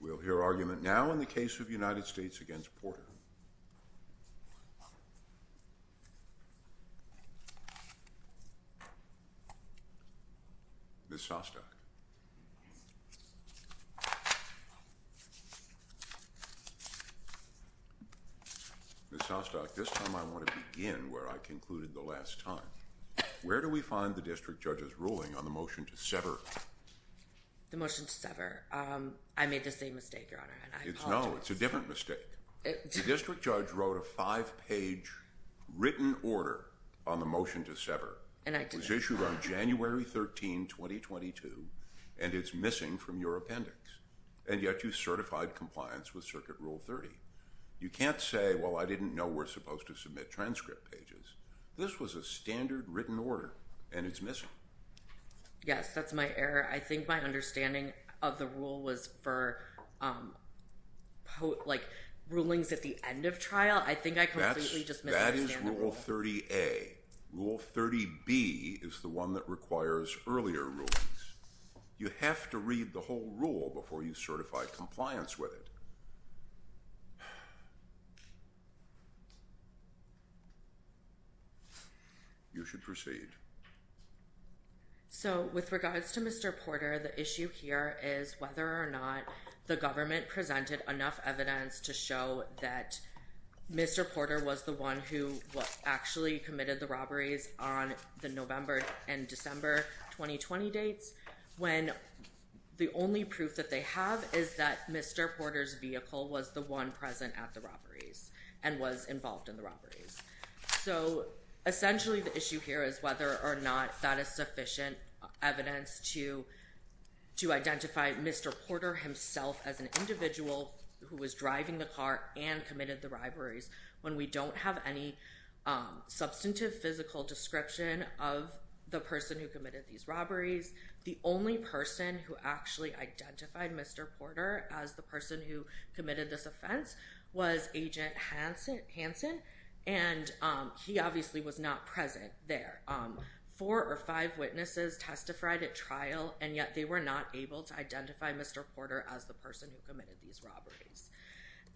We'll hear argument now in the case of United States v. Porter. Ms. Sostok. Ms. Sostok, this time I want to begin where I concluded the last time. Where do we find the district judge's ruling on the motion to sever? The motion to sever. I made the same mistake, Your Honor, and I apologize. No, it's a different mistake. The district judge wrote a five-page written order on the motion to sever. And I did. It was issued on January 13, 2022, and it's missing from your appendix. And yet you certified compliance with Circuit Rule 30. You can't say, well, I didn't know we're supposed to submit transcript pages. This was a standard written order, and it's missing. Yes, that's my error. I think my understanding of the rule was for, like, rulings at the end of trial. I think I completely just misunderstood the rule. That is Rule 30A. Rule 30B is the one that requires earlier rulings. You have to read the whole rule before you certify compliance with it. You should proceed. So, with regards to Mr. Porter, the issue here is whether or not the government presented enough evidence to show that Mr. Porter was the one who actually committed the robberies on the November and December 2020 dates, when the only proof that they have is that Mr. Porter's vehicle was the one present at the robberies and was involved in the robberies. So, essentially, the issue here is whether or not that is sufficient evidence to identify Mr. Porter himself as an individual who was driving the car and committed the robberies, when we don't have any substantive physical description of the person who committed these robberies. The only person who actually identified Mr. Porter as the person who committed this offense was Agent Hansen, and he obviously was not present there. Four or five witnesses testified at trial, and yet they were not able to identify Mr. Porter as the person who committed these robberies.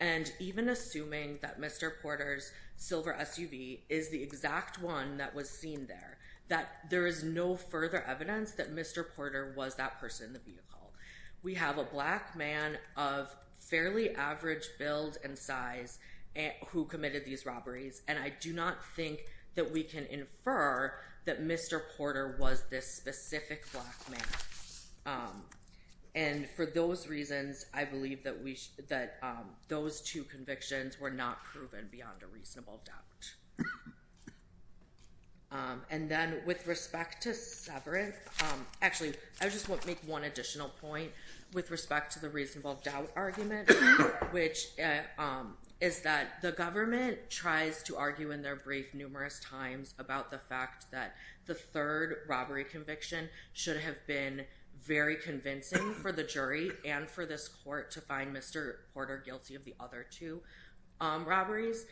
And even assuming that Mr. Porter's silver SUV is the exact one that was seen there, that there is no further evidence that Mr. Porter was that person in the vehicle. We have a black man of fairly average build and size who committed these robberies, and I do not think that we can infer that Mr. Porter was this specific black man. And for those reasons, I believe that those two convictions were not proven beyond a reasonable doubt. And then with respect to Severance, actually, I just want to make one additional point with respect to the reasonable doubt argument, which is that the government tries to argue in their brief numerous times about the fact that the third robbery conviction should have been very convincing for the jury and for this court to find Mr. Porter guilty of the other two robberies.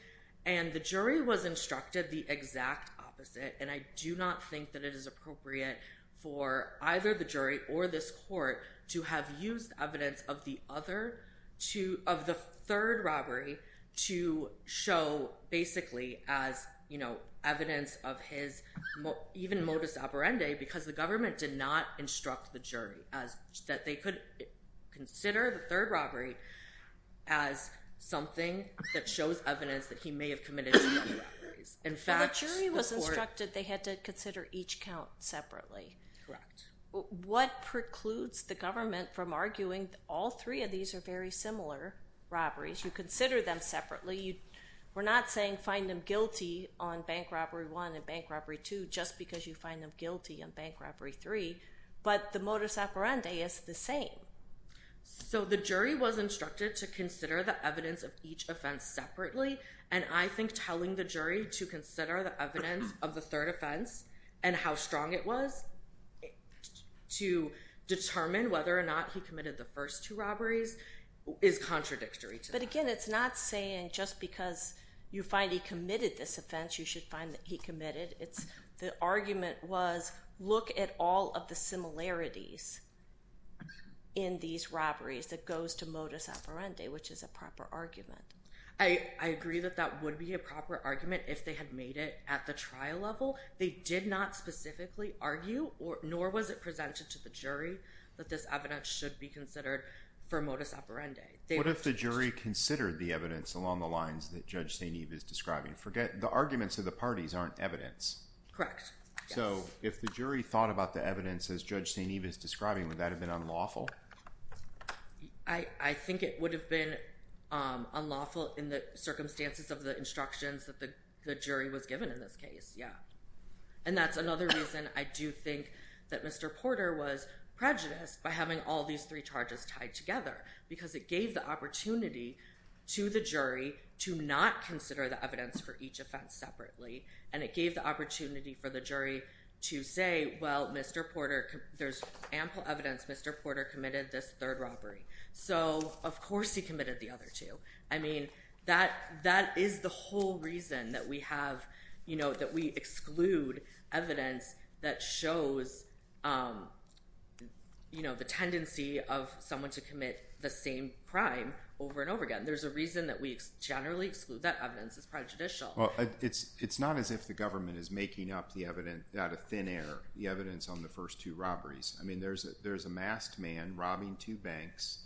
And the jury was instructed the exact opposite, and I do not think that it is appropriate for either the jury or this even modus operandi because the government did not instruct the jury that they could consider the third robbery as something that shows evidence that he may have committed the other robberies. In fact, the court- When the jury was instructed, they had to consider each count separately. Correct. What precludes the government from arguing that all three of these are very similar robberies? You consider them separately. We're not saying find them guilty on Bank Robbery 1 and Bank Robbery 2 just because you find them guilty on Bank Robbery 3, but the modus operandi is the same. So the jury was instructed to consider the evidence of each offense separately, and I think telling the jury to consider the evidence of the third offense and how strong it was to determine whether or not he committed the first two robberies is contradictory to that. But again, it's not saying just because you find he committed this offense, you should find that he committed. The argument was look at all of the similarities in these robberies that goes to modus operandi, which is a proper argument. I agree that that would be a proper argument if they had made it at the trial level. They did not specifically argue, nor was it presented to the jury, that this evidence should be considered for modus operandi. What if the jury considered the evidence along the lines that Judge St. Eve is describing? The arguments of the parties aren't evidence. So if the jury thought about the evidence as Judge St. Eve is describing, would that have been unlawful? I think it would have been unlawful in the circumstances of the instructions that the jury was given in this case, yeah. And that's another reason I do think that Mr. Porter was prejudiced by having all these three charges tied together because it gave the opportunity to the jury to not consider the evidence for each offense separately. And it gave the opportunity for the jury to say, well, there's ample evidence Mr. Porter committed this third robbery. So of course he committed the other two. I mean, that is the whole reason that we exclude evidence that shows the tendency of someone to commit the same crime over and over again. There's a reason that we generally exclude that evidence. It's prejudicial. Well, it's not as if the government is making up the evidence out of thin air, the evidence on the first two robberies. I mean, there's a masked man robbing two banks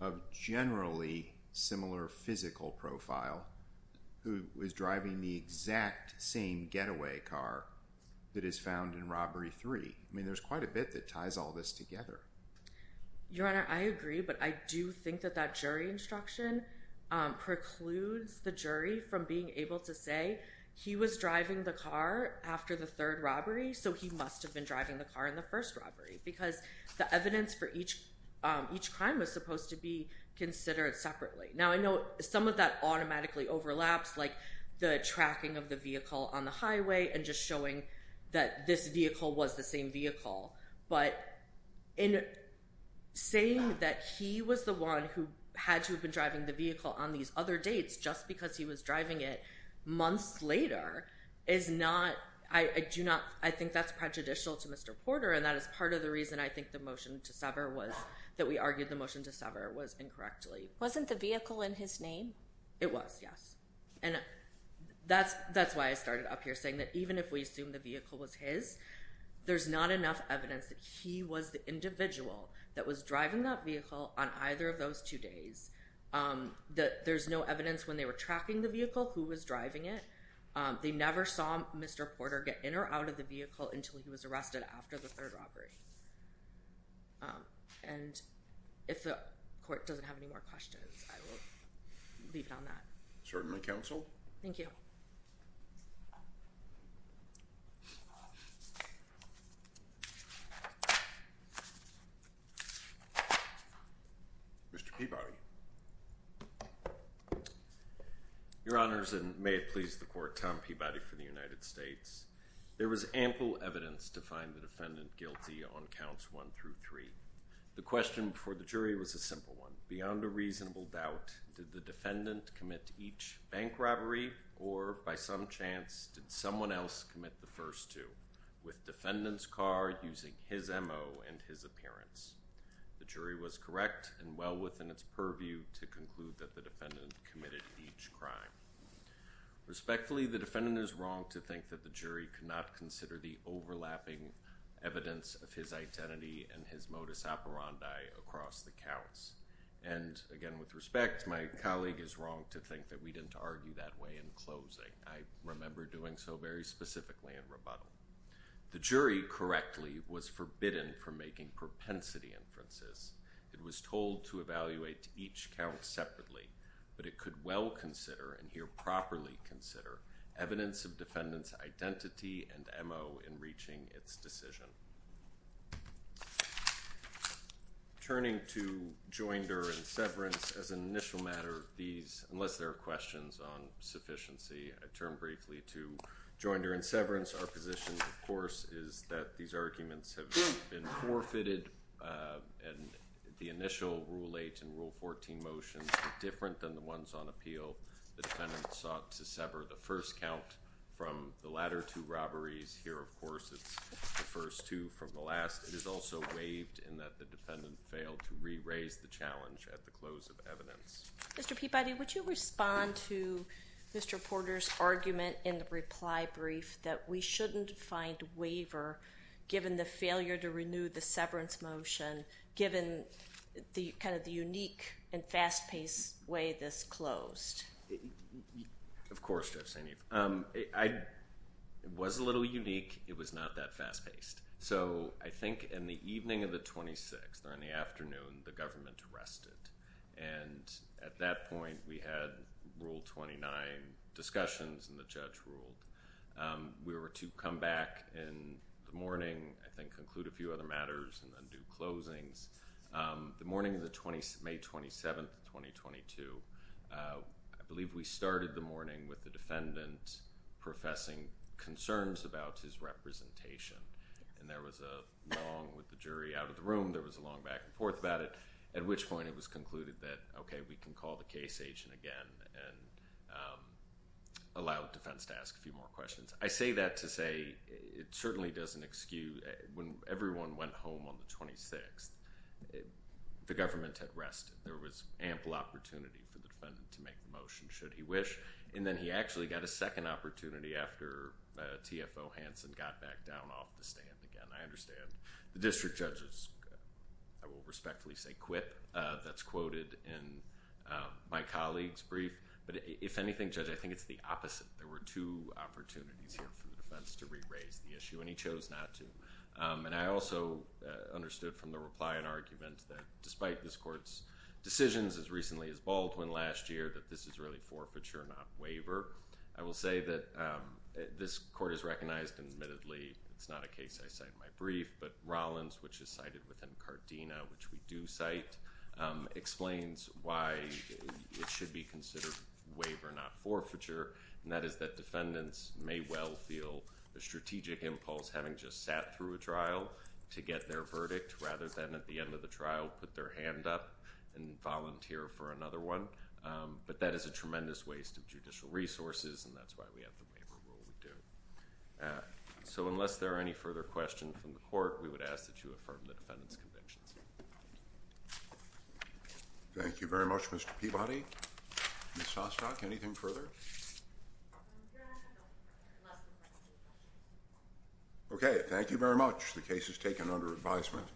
of generally similar physical profile who was driving the exact same getaway car that is found in robbery three. I mean, there's quite a bit that ties all this together. Your Honor, I agree, but I do think that that jury instruction precludes the jury from being able to say, he was driving the car after the third robbery, so he must have been driving the car in the first robbery. Because the evidence for each crime was supposed to be considered separately. Now, I know some of that automatically overlaps, like the tracking of the vehicle on the highway and just showing that this vehicle was the same vehicle. But in saying that he was the one who had to have been driving the vehicle on these other dates just because he was driving it months later is not, I do not, I think that's prejudicial to Mr. Porter, and that is part of the reason I think the motion to sever was, that we argued the motion to sever was incorrectly. Wasn't the vehicle in his name? It was, yes. And that's why I started up here saying that even if we assume the vehicle was his, there's not enough evidence that he was the individual that was driving that vehicle on either of those two days. There's no evidence when they were tracking the vehicle who was driving it. They never saw Mr. Porter get in or out of the vehicle until he was arrested after the third robbery. And if the court doesn't have any more questions, I will leave it on that. Certainly, counsel. Thank you. Mr. Peabody. Your Honors, and may it please the Court, Tom Peabody for the United States. There was ample evidence to find the defendant guilty on counts one through three. The question before the jury was a simple one. Beyond a reasonable doubt, did the defendant commit each bank robbery or, by some other means, by some chance, did someone else commit the first two with defendant's car using his M.O. and his appearance? The jury was correct and well within its purview to conclude that the defendant committed each crime. Respectfully, the defendant is wrong to think that the jury could not consider the overlapping evidence of his identity and his modus operandi across the counts. And, again, with respect, my colleague is wrong to think that we didn't argue that way in closing. I remember doing so very specifically in rebuttal. The jury, correctly, was forbidden from making propensity inferences. It was told to evaluate each count separately, but it could well consider, and here properly consider, evidence of defendant's identity and M.O. in reaching its decision. Turning to joinder and severance, as an initial matter, unless there are questions on sufficiency, I'd turn briefly to joinder and severance. Our position, of course, is that these arguments have been forfeited, and the initial Rule 8 and Rule 14 motions were different than the ones on appeal. The defendant sought to sever the first count from the latter two robberies. Here, of course, it's the first two from the last. It is also waived in that the defendant failed to re-raise the challenge at the close of evidence. Mr. Peabody, would you respond to Mr. Porter's argument in the reply brief that we shouldn't find waiver given the failure to renew the severance motion, given kind of the unique and fast-paced way this closed? Of course, Judge St. Eve. It was a little unique. It was not that fast-paced. So I think in the evening of the 26th or in the afternoon, the government arrested. And at that point, we had Rule 29 discussions, and the judge ruled. We were to come back in the morning, I think, conclude a few other matters, and then do closings. The morning of May 27th, 2022, I believe we started the morning with the defendant professing concerns about his representation. And there was a long, with the jury out of the room, there was a long back and forth about it, at which point it was concluded that, okay, we can call the case agent again and allow defense to ask a few more questions. I say that to say it certainly doesn't excuse. When everyone went home on the 26th, the government had rested. There was ample opportunity for the defendant to make the motion, should he wish. And then he actually got a second opportunity after TFO Hanson got back down off the stand again. I understand. The district judge is, I will respectfully say, quip. That's quoted in my colleague's brief. But if anything, Judge, I think it's the opposite. There were two opportunities here for the defense to re-raise the issue, and he chose not to. And I also understood from the reply and argument that despite this court's decisions as recently as Baldwin last year, that this is really forfeiture, not waiver. I will say that this court has recognized, and admittedly, it's not a case I cite in my brief, but Rollins, which is cited within Cardina, which we do cite, explains why it should be considered waiver, not forfeiture. And that is that defendants may well feel the strategic impulse, having just sat through a trial, to get their verdict rather than at the end of the trial put their hand up and volunteer for another one. But that is a tremendous waste of judicial resources, and that's why we have the waiver rule we do. So unless there are any further questions from the court, we would ask that you affirm the defendant's convictions. Thank you very much, Mr. Peabody. Ms. Sostok, anything further? Okay, thank you very much. The case is taken under advisement.